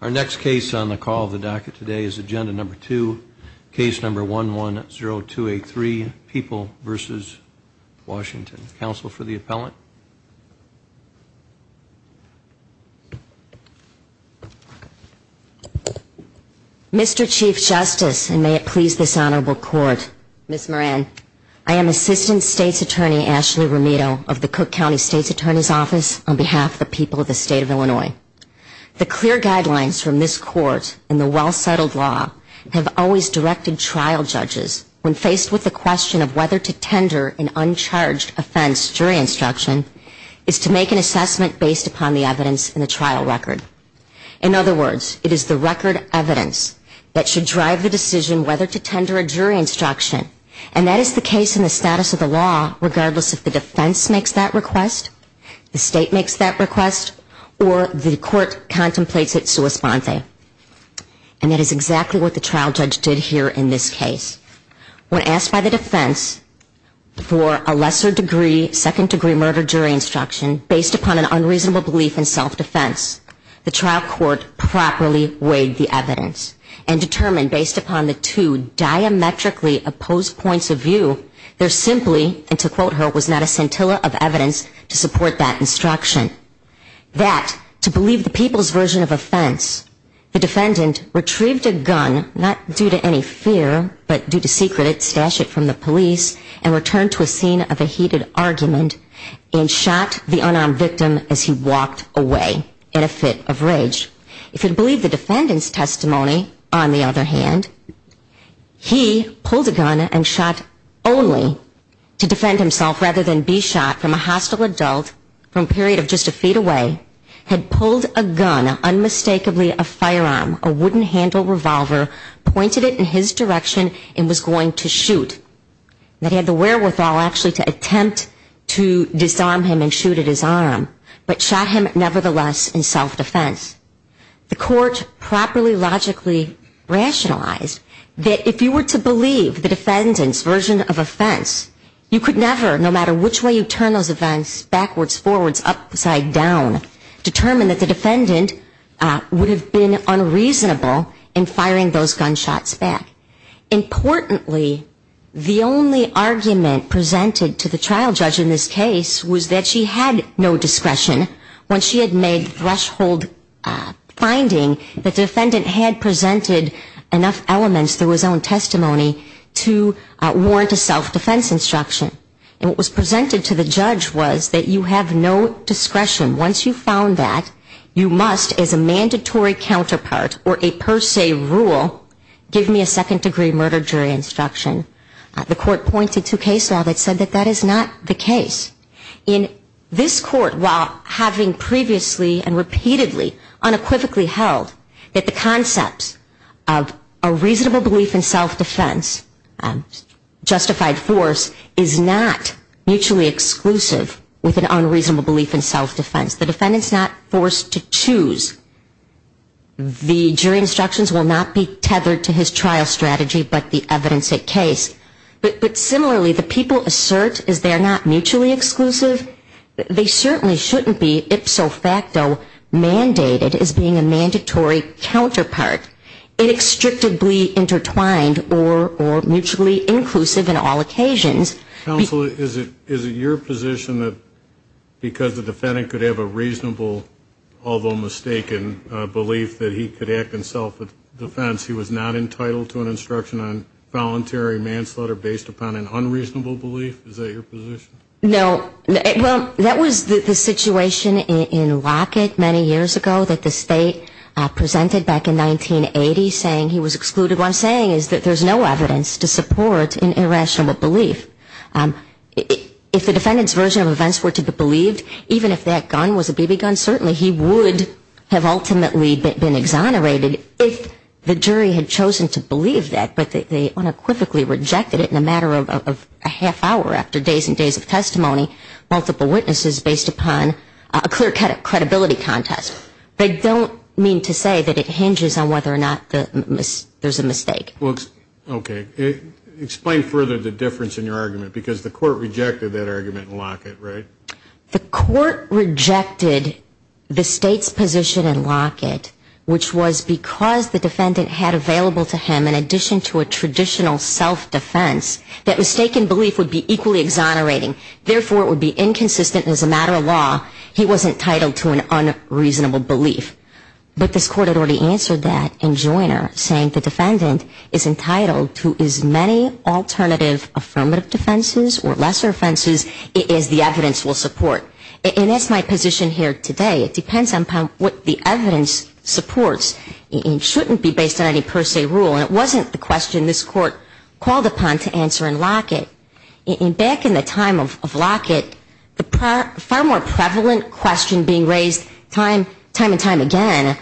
Our next case on the call of the docket today is Agenda No. 2, Case No. 11-0283, People v. Washington. Counsel for the appellant? Mr. Chief Justice, and may it please this Honorable Court, Ms. Moran, I am Assistant State's Attorney Ashley Romito of the Cook County State's Attorney's Office on behalf of the people of the State of Illinois. The clear guidelines from this Court in the well-settled law have always directed trial judges when faced with the question of whether to tender an uncharged offense jury instruction is to make an assessment based upon the evidence in the trial record. In other words, it is the record evidence that should drive the decision whether to tender a jury instruction, and that is the case in the status of the law regardless if the defense makes that request, the State makes that request, or the Court contemplates it sua sponte. And that is exactly what the trial judge did here in this case. When asked by the defense for a lesser-degree, second-degree murder jury instruction based upon an unreasonable belief in self-defense, the trial court properly weighed the evidence and determined based upon the two diametrically opposed points of view, there simply, and to quote her, was not a scintilla of evidence to support that instruction. The defendant retrieved a gun, not due to any fear, but due to secret, stashed it from the police, and returned to a scene of a heated argument and shot the unarmed victim as he walked away in a fit of rage. If you believe the defendant's testimony, on the other hand, he pulled a gun and shot only to defend himself rather than be shot from a hostile adult from a period of just a feet away, had pulled a gun, unmistakably a firearm, a wooden handle revolver, pointed it in his direction and was going to shoot. That had the wherewithal actually to attempt to disarm him and shoot at his arm, but shot him nevertheless in self-defense. The court properly, logically rationalized that if you were to believe the defendant's version of offense, you could never, no matter which way you turn those events backwards, forwards, upside down, determine that the defendant would have been unreasonable in firing those gunshots back. Importantly, the only argument presented to the trial judge in this case was that she had no discretion when she had made the threshold finding that the defendant had presented enough elements through his own testimony to warrant a self-defense instruction. And what was presented to the judge was that you have no discretion. Once you've found that, you must, as a mandatory counterpart or a per se rule, give me a second-degree murder jury instruction. The court pointed to case law that said that that is not the case. In this court, while having previously and repeatedly unequivocally held that the concepts of a reasonable belief in self-defense, justified force, is not mutually exclusive with an unreasonable belief in self-defense, the defendant's not forced to choose. The jury instructions will not be tethered to his trial strategy but the evidence at case. But similarly, the people assert, is there not mutually exclusive? They certainly shouldn't be ipso facto mandated as being a mandatory counterpart, inextricably intertwined or mutually inclusive in all occasions. Counsel, is it your position that because the defendant could have a reasonable, although mistaken, belief that he could act in self-defense, he was not entitled to an instruction on voluntary manslaughter based upon an unreasonable belief? Is that your position? No. Well, that was the situation in Lockett many years ago that the state presented back in 1980, saying he was excluded. What I'm saying is that there's no evidence to support an irrational belief. If the defendant's version of events were to be believed, even if that gun was a BB gun, certainly he would have ultimately been exonerated if the jury had chosen to believe that, but they unequivocally rejected it in a matter of a half hour after days and days of trial. Now, I don't mean to say that it hinges on whether or not there's a mistake. Okay. Explain further the difference in your argument, because the court rejected that argument in Lockett, right? The court rejected the state's position in Lockett, which was because the defendant had available to him, in addition to a traditional self-defense, that mistaken belief would be equally exonerating. Therefore, it would be inconsistent as a matter of law. He was entitled to an unreasonable belief. But this court had already answered that in Joyner, saying the defendant is entitled to as many alternative affirmative defenses or lesser offenses as the evidence will support. And that's my position here today. It depends on what the evidence supports. It shouldn't be based on any per se rule. And it wasn't the question this court called upon to answer in Lockett. Back in the time of Lockett, the far more prevalent question being raised time and time again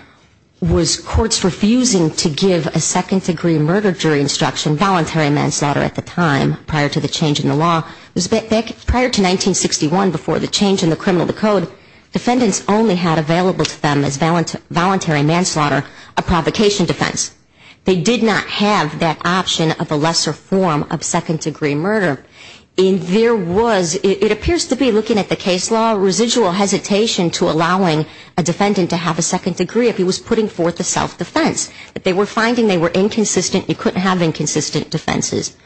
was courts refusing to give a second-degree murder jury instruction, voluntary manslaughter at the time, prior to the change in the law. Prior to 1961, before the change in the Criminal Code, defendants only had available to them as voluntary manslaughter a provocation defense. They did not have that option of a lesser form of second-degree murder. And there was, it appears to be, looking at the case law, residual hesitation to allowing a defendant to have a second degree if he was putting forth a self-defense. But they were finding they were inconsistent. You couldn't have inconsistent defenses.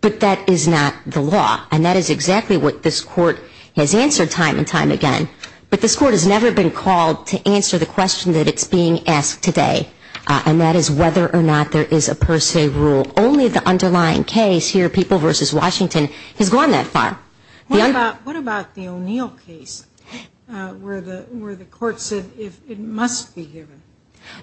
But that is not the law. And that is exactly what this court has answered time and time again. But this court has never been called to answer the question that it's being asked today. And that is whether or not there is a per se rule. Only the underlying case here, People v. Washington, has gone that far. What about the O'Neill case where the court said it must be given?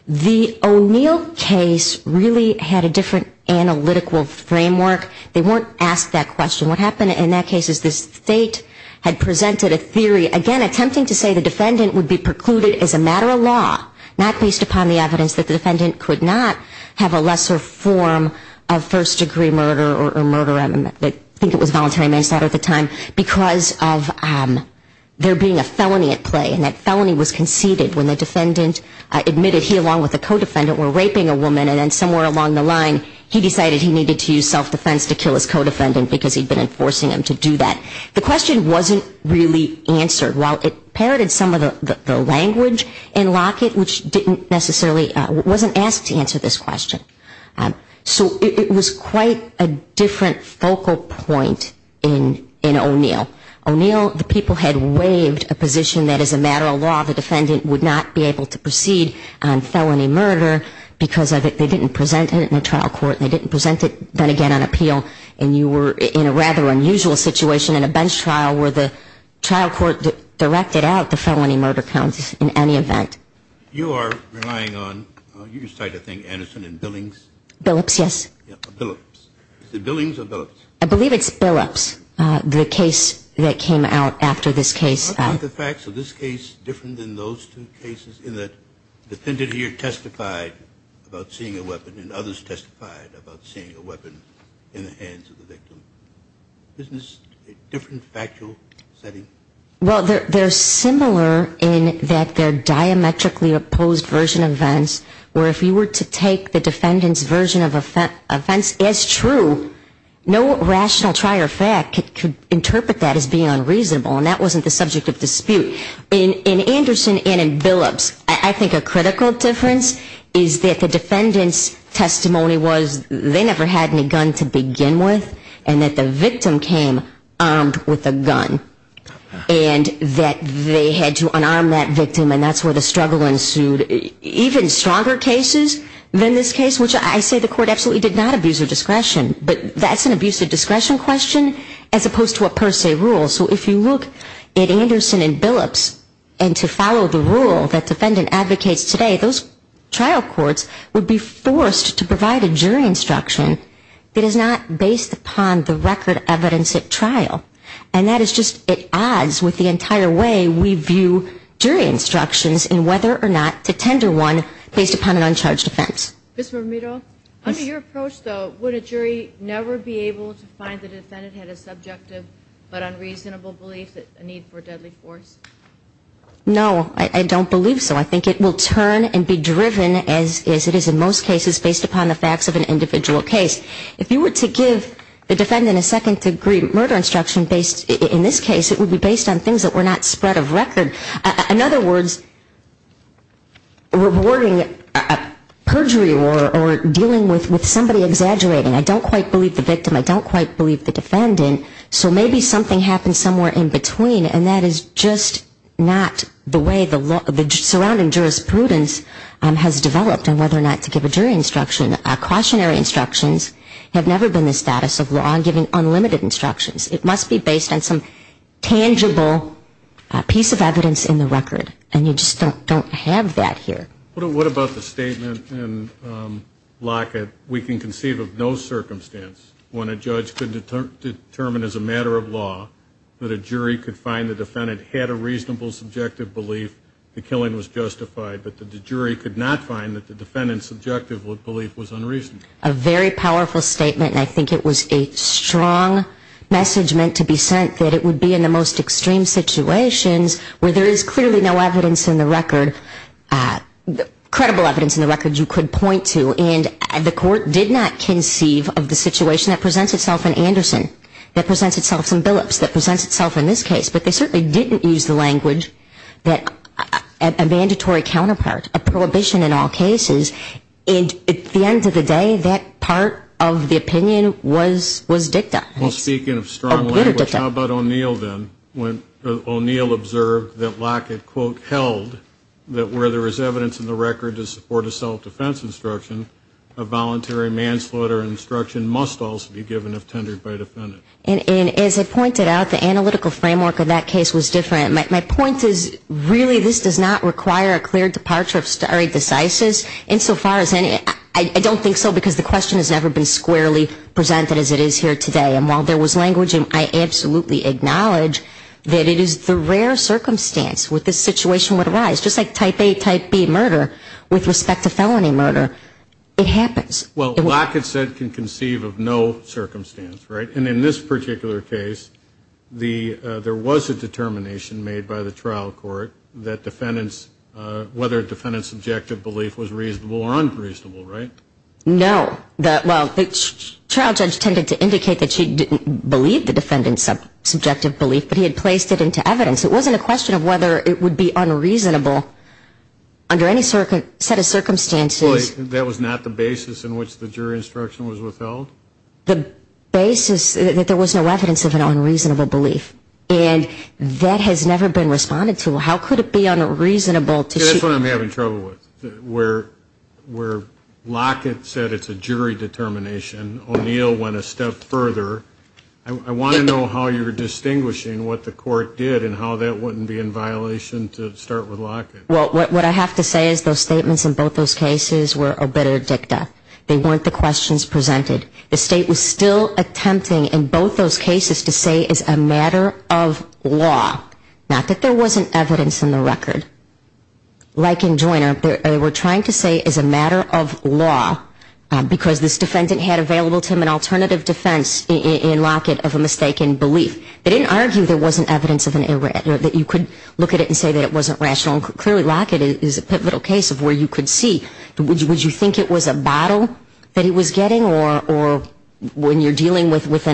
The O'Neill case really had a different analytical framework. They weren't asked that question. What happened in that case is the State had presented a theory, again, attempting to say the defendant would be precluded as a matter of law, not based upon the evidence that the defendant could not have a lesser form of first-degree murder or murder, I think it was voluntary manslaughter at the time, because of there being a felony at play. And that felony was conceded when the defendant admitted he, along with the co-defendant, were raping a woman. And then somewhere along the line, he decided he needed to use self-defense to kill his co-defendant because he had been enforcing him to do that. The question wasn't really answered. While it parroted some of the language in Lockett, which didn't necessarily, wasn't asked to answer this question. So it was quite a different focal point in O'Neill. O'Neill, the people had waived a position that as a matter of law, the defendant would not be able to proceed on felony murder because they didn't present it in a trial court. They didn't present it, then again, on appeal. And you were in a rather unusual situation in a bench trial where the trial court directed out the felony murder counts in any event. You are relying on, you cited, I think, Anderson and Billings? Billups, yes. Billups. Is it Billings or Billups? I believe it's Billups, the case that came out after this case. Aren't the facts of this case different than those two cases in that the defendant here testified about seeing a weapon and others testified about seeing a weapon in the hands of the victim? Isn't this a different factual setting? Well, they're similar in that they're diametrically opposed version events, where if you were to take the defendant's version of offense as true, no rational trier fact could interpret that as being unreasonable and that wasn't the subject of dispute. In Anderson and in Billups, I think a critical difference is that the defendant's testimony was they never had any gun to begin with and that the victim came armed with a gun and that they had to unarm that victim and that's where the struggle ensued. Even stronger cases than this case, which I say the court absolutely did not abuse of discretion, but that's an abuse of discretion question as opposed to a per se rule. So if you look at Anderson and Billups and to follow the rule that defendant advocates today, those trial courts would be forced to provide a jury instruction that is not based upon the record evidence at trial. And that is just at odds with the entire way we view jury instructions in whether or not to tender one based upon an uncharged offense. Ms. Mermito, under your approach though, would a jury never be able to find the defendant had a subjective but unreasonable belief that a need for deadly force? No, I don't believe so. I think it will turn and be driven as it is in most cases based upon the facts of an individual case. If you were to give the defendant a second degree murder instruction based in this case, it would be based on things that were not spread of record. In other words, rewarding perjury or dealing with somebody exaggerating. I don't quite believe the victim. I don't quite believe the defendant. So maybe something happened somewhere in between and that is just not the way the surrounding jurisprudence has developed on whether or not to give a jury instruction. Cautionary instructions have never been the status of law giving unlimited instructions. It must be based on some tangible piece of evidence in the record. And you just don't have that here. What about the statement in Lockett, we can conceive of no circumstance when a judge could determine as a matter of law that a jury could find the defendant had a reasonable subjective belief the killing was justified, but the jury could not find that the defendant's subjective belief was unreasonable. A very powerful statement. And I think it was a strong message meant to be sent that it would be in the most extreme situations where there is clearly no evidence in the record, credible evidence in the record you could point to. And the court did not conceive of the situation that presents itself in Anderson, that presents itself in Billups, that presents itself in this case. But they certainly didn't use the language that a mandatory counterpart, a prohibition in all cases, and at the end of the day that part of the opinion was dicta. Well, speaking of strong language, how about O'Neill then? When O'Neill observed that Lockett, quote, held that where there is evidence in the record to support a self-defense instruction, a voluntary manslaughter instruction must also be given if tendered by a defendant. And as I pointed out, the analytical framework of that case was different. My point is really this does not require a clear departure of stare decisis insofar as any, I don't think so because the question has never been squarely presented as it is here today. And while there was language, I absolutely acknowledge that it is the rare circumstance where this situation would arise, just like type A, type B murder with respect to felony murder. It happens. Well, Lockett said can conceive of no circumstance, right? And in this particular case, there was a determination made by the trial court that defendants, whether a defendant's subjective belief was reasonable or unreasonable, right? No. Well, the trial judge tended to indicate that she didn't believe the defendant's subjective belief, but he had placed it into evidence. It wasn't a question of whether it would be unreasonable under any set of circumstances. That was not the basis in which the jury instruction was withheld? The basis that there was no evidence of an unreasonable belief. And that has never been responded to. How could it be unreasonable to see? That's what I'm having trouble with, where Lockett said it's a jury determination. O'Neill went a step further. I want to know how you're distinguishing what the court did and how that wouldn't be in violation to start with Lockett. Well, what I have to say is those statements in both those cases were obiter dicta. They weren't the questions presented. The State was still attempting in both those cases to say it's a matter of law, not that there wasn't evidence in the record. Like in Joyner, they were trying to say it's a matter of law because this defendant had available to him an alternative defense in Lockett of a mistaken belief. They didn't argue there wasn't evidence that you could look at it and say that it wasn't rational. Clearly, Lockett is a pivotal case of where you could see, would you think it was a bottle that he was getting or when you're dealing with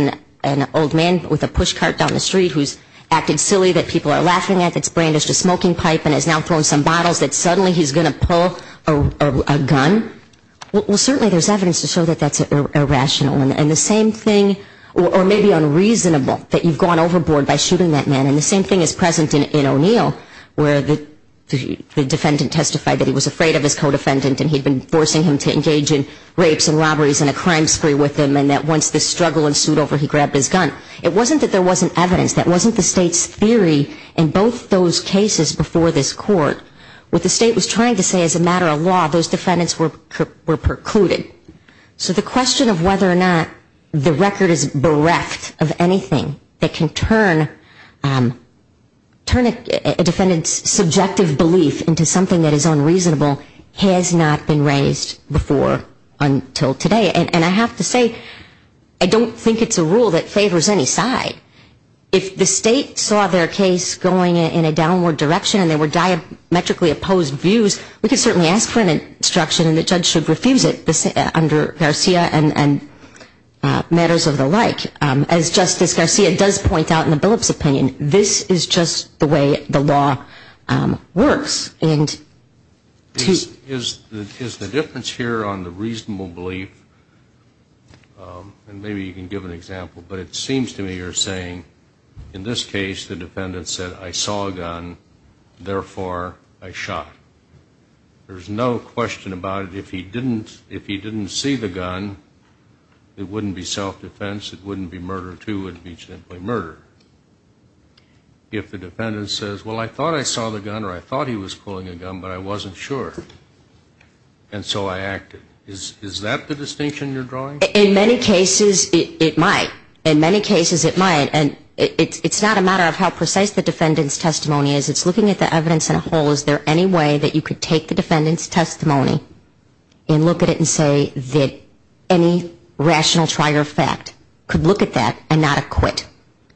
an old man with a push cart down the street who's acted silly that people are laughing at, that's brandished a smoking pipe and is now throwing some bottles, that suddenly he's going to pull a gun? Well, certainly there's evidence to show that that's irrational. And the same thing, or maybe unreasonable, that you've gone overboard by shooting that man. And the same thing is present in O'Neill, where the defendant testified that he was afraid of his co-defendant and he'd been forcing him to engage in rapes and robberies and a crime spree with him and that once the struggle ensued over, he grabbed his gun. It wasn't that there wasn't evidence. That wasn't the state's theory in both those cases before this court. What the state was trying to say is as a matter of law, those defendants were precluded. So the question of whether or not the record is bereft of anything that can turn a defendant's subjective belief into something that is unreasonable has not been raised before until today. And I have to say, I don't think it's a rule that favors any side. If the state saw their case going in a downward direction and there were diametrically opposed views, we could certainly ask for an instruction and the judge should refuse it under Garcia and matters of the like. And as Justice Garcia does point out in the Billups' opinion, this is just the way the law works. Is the difference here on the reasonable belief, and maybe you can give an example, but it seems to me you're saying in this case the defendant said, I saw a gun, therefore I shot. There's no question about it. If he didn't see the gun, it wouldn't be self-defense. It wouldn't be murder, too. It would be simply murder. If the defendant says, well, I thought I saw the gun or I thought he was pulling a gun, but I wasn't sure, and so I acted. Is that the distinction you're drawing? In many cases, it might. In many cases, it might. And it's not a matter of how precise the defendant's testimony is. It's looking at the evidence in a whole. Is there any way that you could take the defendant's testimony and look at it and say that any rational trier of fact could look at that and not acquit.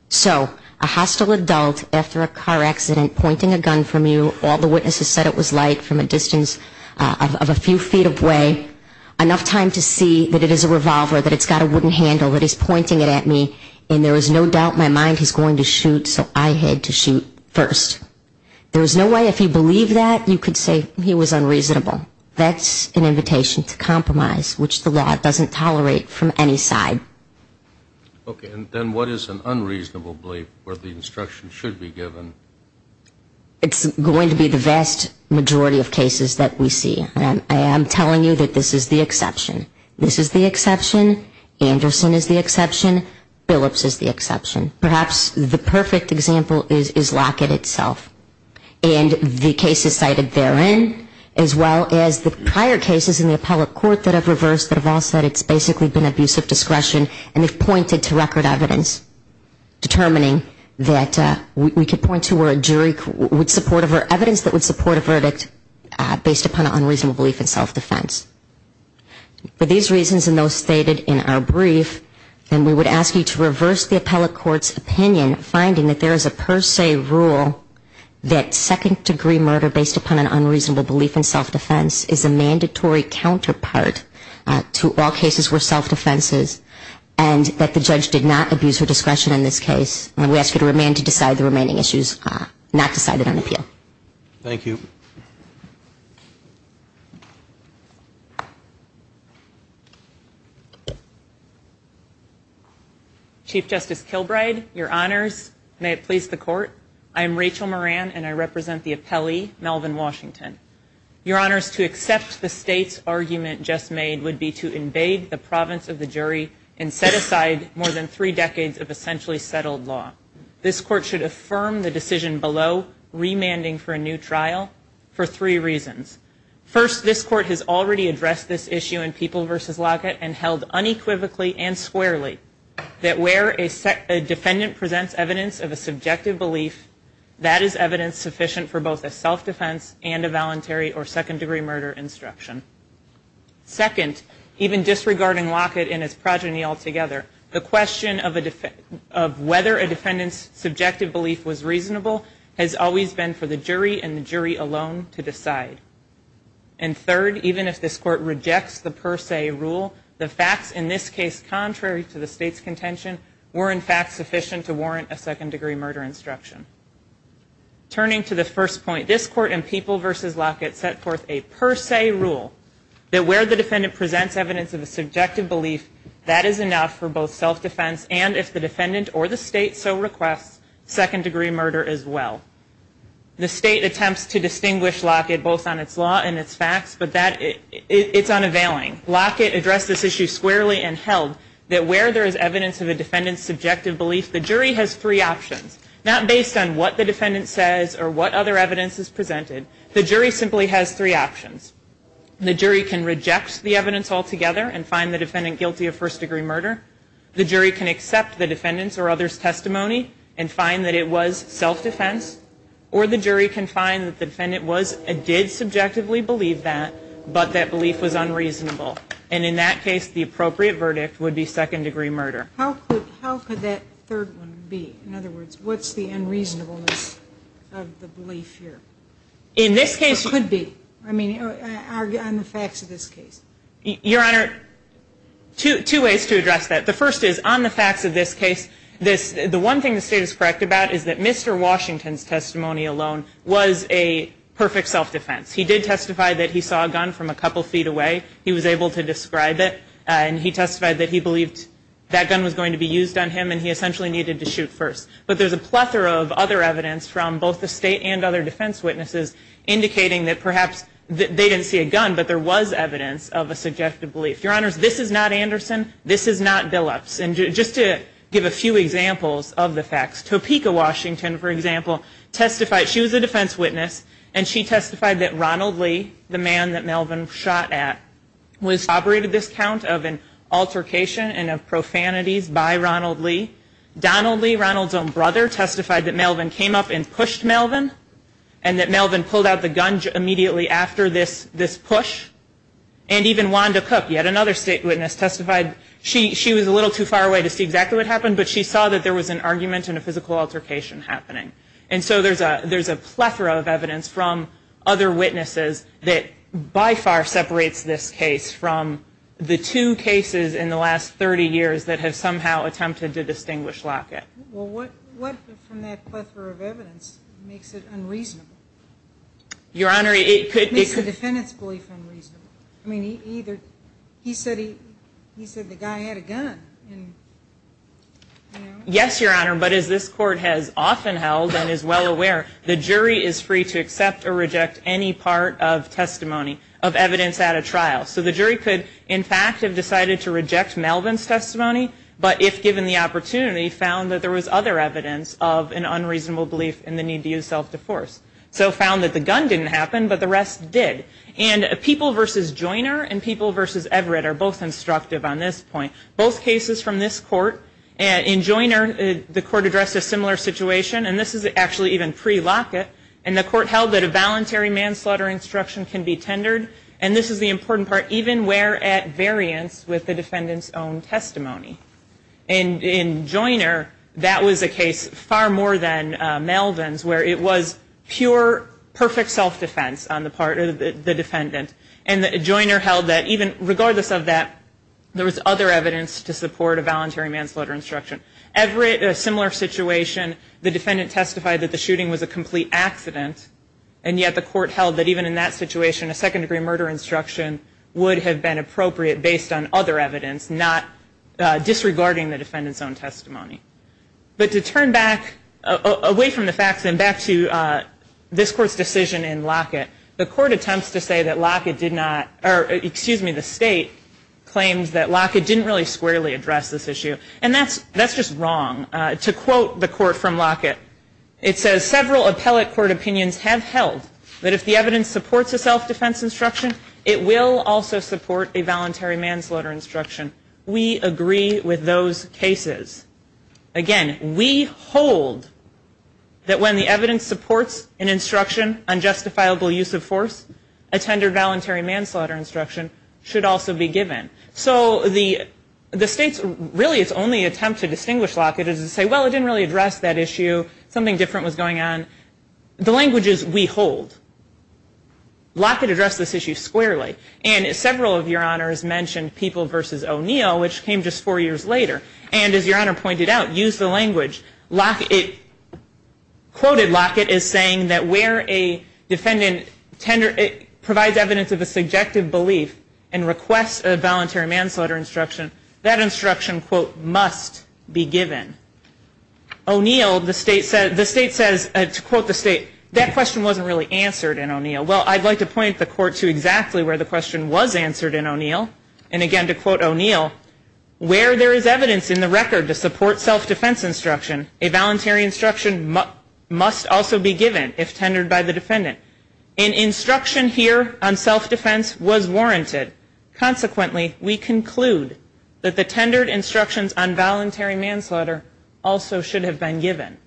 So a hostile adult after a car accident pointing a gun from you, all the witnesses said it was light from a distance of a few feet away, enough time to see that it is a revolver, that it's got a wooden handle, that he's pointing it at me, and there is no doubt in my mind he's going to shoot, so I had to shoot first. There is no way if you believe that you could say he was unreasonable. That's an invitation to compromise, which the law doesn't tolerate from any side. Okay. And then what is an unreasonable belief where the instruction should be given? It's going to be the vast majority of cases that we see. I am telling you that this is the exception. This is the exception. Anderson is the exception. Phillips is the exception. Perhaps the perfect example is Lockett itself and the cases cited therein as well as the prior cases in the appellate court that have reversed that have all said it's basically been abuse of discretion and have pointed to record evidence determining that we could point to where a jury would support evidence that would support a verdict based upon an unreasonable belief in self-defense. For these reasons and those stated in our brief, then we would ask you to reverse the appellate court's opinion finding that there is a per se rule that second-degree murder based upon an unreasonable belief in self-defense is a mandatory counterpart to all cases where self-defense is and that the judge did not abuse her discretion in this case. And we ask you to remain to decide the remaining issues not decided on appeal. Thank you. Chief Justice Kilbride, your honors, may it please the court. I am Rachel Moran, and I represent the appellee, Melvin Washington. Your honors, to accept the state's argument just made would be to invade the province of the jury and set aside more than three decades of essentially settled law. This court should affirm the decision below, remanding for a new trial, for three reasons. First, this court has already addressed this issue in People v. Lockett and held unequivocally and squarely that where a defendant presents evidence of a subjective belief, that is evidence sufficient for both a self-defense and a voluntary or second-degree murder instruction. Second, even disregarding Lockett and his progeny altogether, the question of whether a defendant's subjective belief was reasonable has always been for the jury and the jury alone to decide. And third, even if this court rejects the per se rule, the facts in this case, contrary to the state's contention, were in fact sufficient to warrant a second-degree murder instruction. Turning to the first point, this court in People v. Lockett set forth a per se rule that where the defendant presents evidence of a subjective belief, that is enough for both self-defense and if the defendant or the state so requests, second-degree murder as well. The state attempts to distinguish Lockett both on its law and its facts, but it's unavailing. Lockett addressed this issue squarely and held that where there is evidence of a defendant's subjective belief, the jury has three options. Not based on what the defendant says or what other evidence is presented, the jury simply has three options. The jury can reject the evidence altogether and find the defendant guilty of first-degree murder. The jury can accept the defendant's or other's testimony and find that it was self-defense. Or the jury can find that the defendant was and did subjectively believe that, but that belief was unreasonable. And in that case, the appropriate verdict would be second-degree murder. How could that third one be? In other words, what's the unreasonableness of the belief here? In this case, it could be. I mean, on the facts of this case. Your Honor, two ways to address that. The first is on the facts of this case, the one thing the state is correct about is that Mr. Washington's testimony alone was a perfect self-defense. He did testify that he saw a gun from a couple feet away. He was able to describe it, and he testified that he believed that gun was going to be used on him and he essentially needed to shoot first. But there's a plethora of other evidence from both the state and other defense witnesses indicating that perhaps they didn't see a gun, but there was evidence of a subjective belief. Your Honors, this is not Anderson. This is not Billups. And just to give a few examples of the facts, Topeka Washington, for example, testified. She was a defense witness, and she testified that Ronald Lee, the man that Melvin shot at, was operated this count of an altercation and of profanities by Ronald Lee. Donald Lee, Ronald's own brother, testified that Melvin came up and pushed Melvin and that Melvin pulled out the gun immediately after this push. And even Wanda Cook, yet another state witness, testified. She was a little too far away to see exactly what happened, but she saw that there was an argument and a physical altercation happening. And so there's a plethora of evidence from other witnesses that by far separates this case from the two cases in the last 30 years that have somehow attempted to distinguish Lockett. Well, what from that plethora of evidence makes it unreasonable? Your Honor, it could be. It makes the defendant's belief unreasonable. I mean, he said the guy had a gun. Yes, Your Honor, but as this Court has often held and is well aware, the jury is free to accept or reject any part of testimony of evidence at a trial. So the jury could, in fact, have decided to reject Melvin's testimony, but if given the opportunity, found that there was other evidence of an unreasonable belief in the need to use self-defense. So found that the gun didn't happen, but the rest did. And People v. Joiner and People v. Everett are both instructive on this point. Both cases from this Court, in Joiner, the Court addressed a similar situation, and this is actually even pre-Lockett, and the Court held that a voluntary manslaughter instruction can be tendered, and this is the important part, even where at variance with the defendant's own testimony. And in Joiner, that was a case far more than Melvin's, where it was pure, perfect self-defense on the part of the defendant. And Joiner held that even regardless of that, there was other evidence to support a voluntary manslaughter instruction. Everett, a similar situation, the defendant testified that the shooting was a complete accident, and yet the Court held that even in that situation, a second-degree murder instruction would have been appropriate based on other evidence, not disregarding the defendant's own testimony. But to turn back, away from the facts, and back to this Court's decision in Lockett, the Court attempts to say that Lockett did not, or excuse me, the State claims that Lockett didn't really squarely address this issue, and that's just wrong. To quote the Court from Lockett, it says, several appellate court opinions have held that if the evidence supports a self-defense instruction, it will also support a voluntary manslaughter instruction. We agree with those cases. Again, we hold that when the evidence supports an instruction, unjustifiable use of force, a tender voluntary manslaughter instruction should also be given. So the State's, really its only attempt to distinguish Lockett is to say, well, it didn't really address that issue, something different was going on. The language is, we hold. Lockett addressed this issue squarely. And several of your honors mentioned People v. O'Neill, which came just four years later. And as your honor pointed out, use the language. Quoted Lockett as saying that where a defendant provides evidence of a subjective belief and requests a voluntary manslaughter instruction, that instruction, quote, must be given. O'Neill, the State says, to quote the State, that question wasn't really answered in O'Neill. Well, I'd like to point the Court to exactly where the question was answered in O'Neill. And again, to quote O'Neill, where there is evidence in the record to support self-defense instruction, a voluntary instruction must also be given if tendered by the defendant. An instruction here on self-defense was warranted. Consequently, we conclude that the tendered instructions on voluntary manslaughter also should have been given.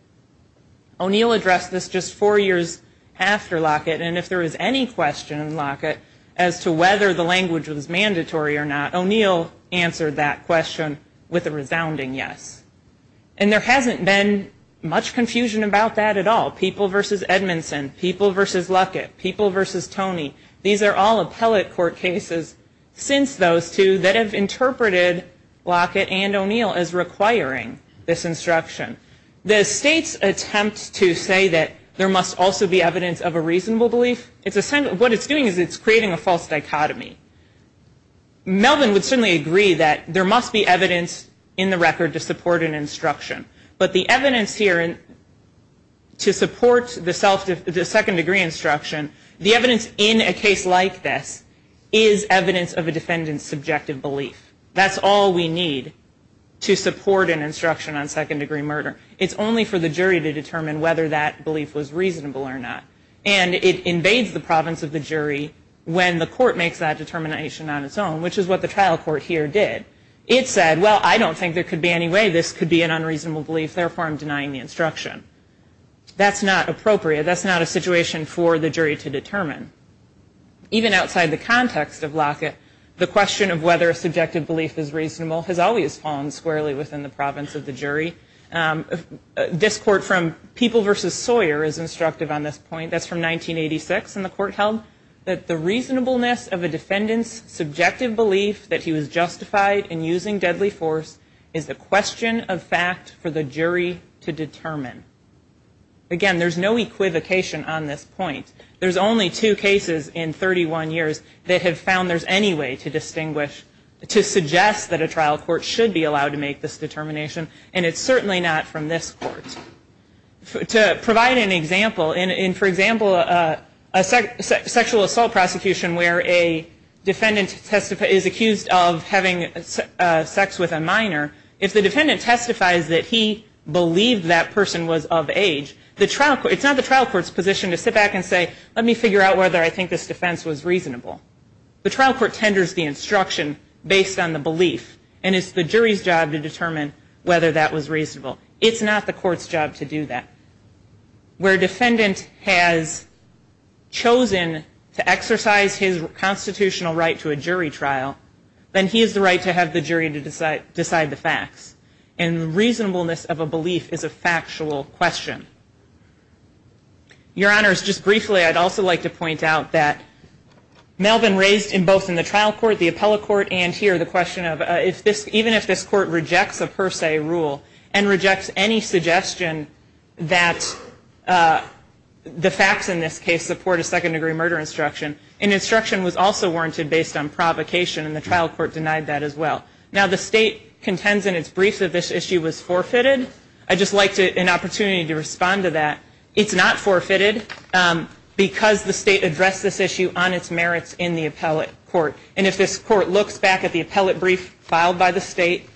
O'Neill addressed this just four years after Lockett. And if there is any question in Lockett as to whether the language was mandatory or not, O'Neill answered that question with a resounding yes. And there hasn't been much confusion about that at all. People v. Edmondson, people v. Lockett, people v. Toney, these are all appellate court cases since those two that have interpreted Lockett and O'Neill as requiring this instruction. The State's attempt to say that there must also be evidence of a reasonable belief, what it's doing is it's creating a false dichotomy. Melvin would certainly agree that there must be evidence in the record to support an instruction. But the evidence here to support the second-degree instruction, the evidence in a case like this is evidence of a defendant's subjective belief. That's all we need to support an instruction on second-degree murder. It's only for the jury to determine whether that belief was reasonable or not. And it invades the province of the jury when the court makes that determination on its own, which is what the trial court here did. It said, well, I don't think there could be any way this could be an unreasonable belief, therefore I'm denying the instruction. That's not appropriate. That's not a situation for the jury to determine. Even outside the context of Lockett, the question of whether a subjective belief is reasonable has always fallen squarely within the province of the jury. This court from People v. Sawyer is instructive on this point. That's from 1986. That the reasonableness of a defendant's subjective belief that he was justified in using deadly force is a question of fact for the jury to determine. Again, there's no equivocation on this point. There's only two cases in 31 years that have found there's any way to distinguish, to suggest that a trial court should be allowed to make this determination, and it's certainly not from this court. To provide an example, in, for example, a sexual assault prosecution where a defendant is accused of having sex with a minor, if the defendant testifies that he believed that person was of age, it's not the trial court's position to sit back and say, let me figure out whether I think this defense was reasonable. The trial court tenders the instruction based on the belief, and it's the jury's job to determine whether that was reasonable. It's not the court's job to do that. Where a defendant has chosen to exercise his constitutional right to a jury trial, then he has the right to have the jury decide the facts. And reasonableness of a belief is a factual question. Your Honors, just briefly, I'd also like to point out that Melvin raised, both in the trial court, the appellate court, and here, the question of, even if this court rejects a per se rule, and rejects any suggestion that the facts in this case support a second degree murder instruction, an instruction was also warranted based on provocation, and the trial court denied that as well. Now, the state contends in its brief that this issue was forfeited. I'd just like an opportunity to respond to that. It's not forfeited because the state addressed this issue on its merits in the appellate court. And if this court looks back at the appellate brief filed by the state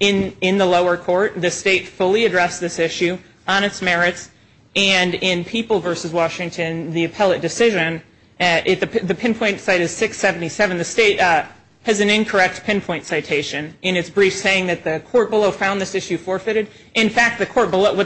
in the lower court, the state fully addressed this issue on its merits, and in People v. Washington, the appellate decision, the pinpoint site is 677. The state has an incorrect pinpoint citation in its brief saying that the court below found this issue forfeited. In fact, what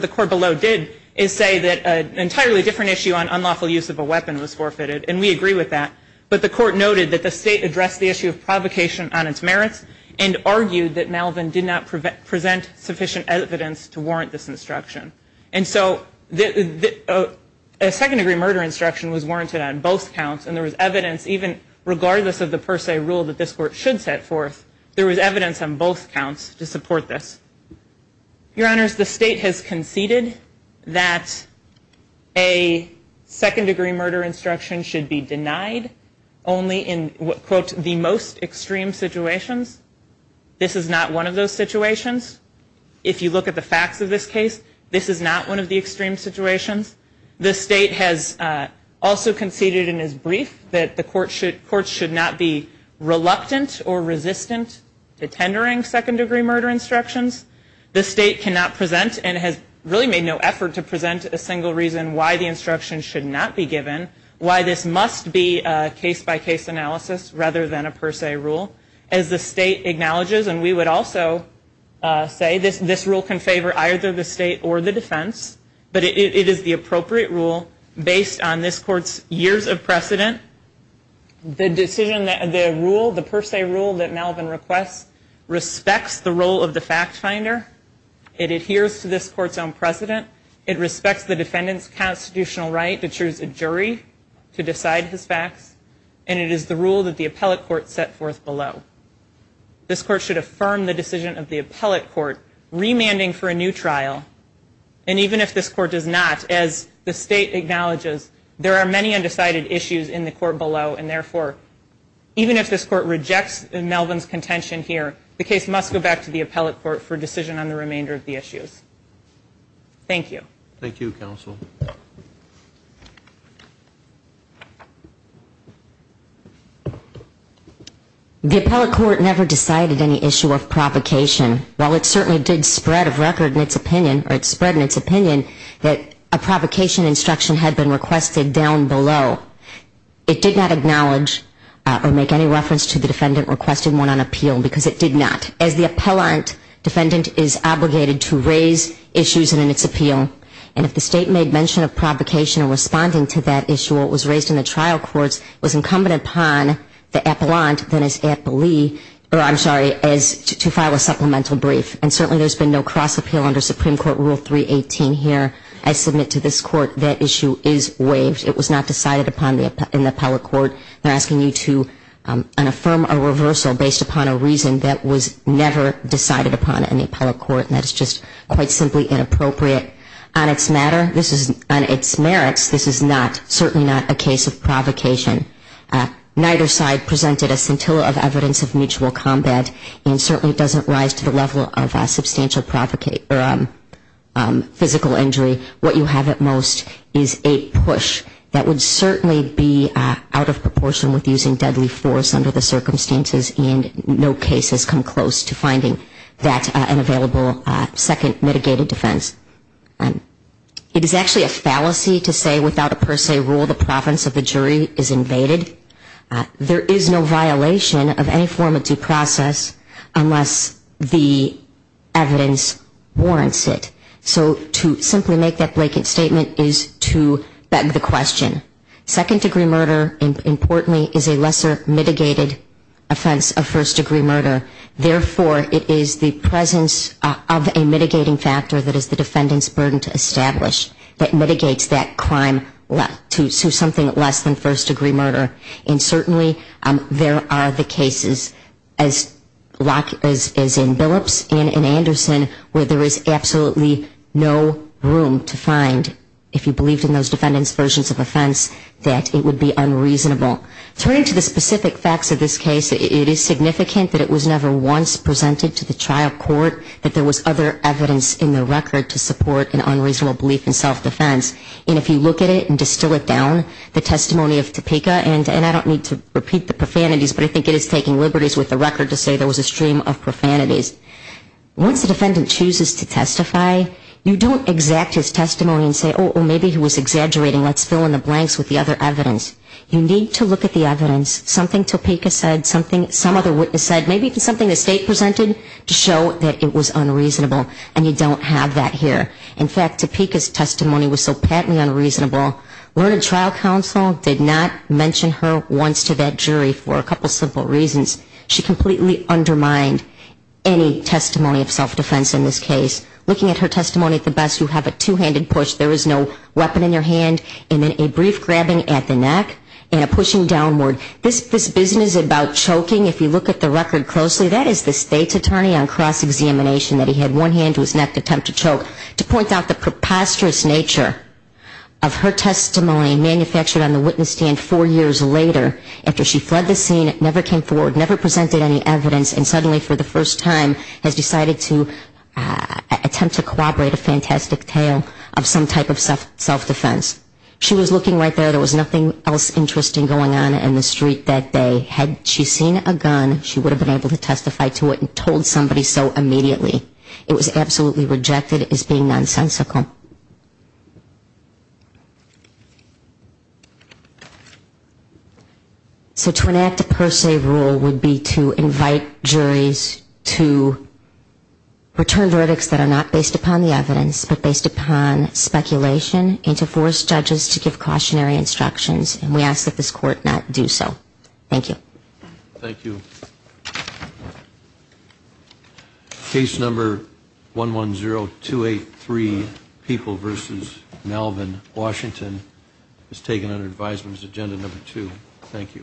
the court below did is say that an entirely different issue on unlawful use of a weapon was forfeited, and we agree with that. But the court noted that the state addressed the issue of provocation on its merits, and argued that Malvin did not present sufficient evidence to warrant this instruction. And so a second degree murder instruction was warranted on both counts, and there was evidence even regardless of the per se rule that this court should set forth, there was evidence on both counts to support this. Your Honors, the state has conceded that a second degree murder instruction should be denied only in, quote, the most extreme situations. This is not one of those situations. If you look at the facts of this case, this is not one of the extreme situations. The state has also conceded in its brief that the court should not be reluctant or resistant to tendering second degree murder instructions. The state cannot present and has really made no effort to present a single reason why the instruction should not be given, why this must be a case-by-case analysis rather than a per se rule. As the state acknowledges, and we would also say this rule can favor either the state or the defense, but it is the appropriate rule based on this court's years of precedent. The decision, the rule, the per se rule that Malvin requests respects the role of the fact finder. It adheres to this court's own precedent. It respects the defendant's constitutional right to choose a jury to decide his facts, and it is the rule that the appellate court set forth below. This court should affirm the decision of the appellate court remanding for a new trial, and even if this court does not, as the state acknowledges, there are many undecided issues in the court below, and therefore even if this court rejects Malvin's contention here, the case must go back to the appellate court for decision on the remainder of the issues. Thank you. Thank you, counsel. The appellate court never decided any issue of provocation. While it certainly did spread of record in its opinion, or it spread in its opinion, that a provocation instruction had been requested down below, it did not acknowledge or make any reference to the defendant requesting one on appeal because it did not. As the appellant, defendant is obligated to raise issues in its appeal, and if the state made mention of provocation in responding to that issue or it was raised in the trial courts, it was incumbent upon the appellant, then as appellee, or I'm sorry, to file a supplemental brief. And certainly there's been no cross appeal under Supreme Court Rule 318 here. I submit to this court that issue is waived. It was not decided upon in the appellate court. They're asking you to affirm a reversal based upon a reason that was never decided upon in the appellate court, and that is just quite simply inappropriate. On its matter, this is, on its merits, this is not, certainly not a case of provocation. Neither side presented a scintilla of evidence of mutual combat, and certainly it doesn't rise to the level of substantial physical injury. What you have at most is a push that would certainly be out of proportion with using deadly force under the circumstances, and no case has come close to finding that an available second mitigated defense. It is actually a fallacy to say without a per se rule the province of the jury is invaded. There is no violation of any form of due process unless the evidence warrants it. So to simply make that blanket statement is to beg the question. Second degree murder, importantly, is a lesser mitigated offense of first degree murder. Therefore, it is the presence of a mitigating factor that is the defendant's burden to establish that mitigates that crime to something less than first degree murder. And certainly there are the cases, as in Billups and in Anderson, where there is absolutely no room to find, if you believed in those defendant's versions of offense, that it would be unreasonable. Turning to the specific facts of this case, it is significant that it was never once presented to the trial court that there was other evidence in the record to support an unreasonable belief in self-defense. And if you look at it and distill it down, the testimony of Topeka, and I don't need to repeat the profanities, but I think it is taking liberties with the record to say there was a stream of profanities. Once the defendant chooses to testify, you don't exact his testimony and say, oh, maybe he was exaggerating, let's fill in the blanks with the other evidence. You need to look at the evidence, something Topeka said, something some other witness said, maybe something the state presented to show that it was unreasonable, and you don't have that here. In fact, Topeka's testimony was so patently unreasonable, Learned Trial Counsel did not mention her once to that jury for a couple simple reasons. She completely undermined any testimony of self-defense in this case. Looking at her testimony at the best, you have a two-handed push, there is no weapon in your hand, and then a brief grabbing at the neck and a pushing downward. This business about choking, if you look at the record closely, that is the state's attorney on cross-examination that he had one hand to his neck to attempt to choke. To point out the preposterous nature of her testimony manufactured on the witness stand four years later after she fled the scene, never came forward, never presented any evidence, and suddenly for the first time has decided to attempt to corroborate a fantastic tale of some type of self-defense. She was looking right there, there was nothing else interesting going on in the street that day. Had she seen a gun, she would have been able to testify to it and told somebody so immediately. It was absolutely rejected as being nonsensical. So to enact a per se rule would be to invite juries to return verdicts that are not based upon the evidence but based upon speculation and to force judges to give cautionary instructions, and we ask that this court not do so. Thank you. Thank you. Case number 110283, People v. Melvin, Washington, is taken under advisement as agenda number two. Thank you.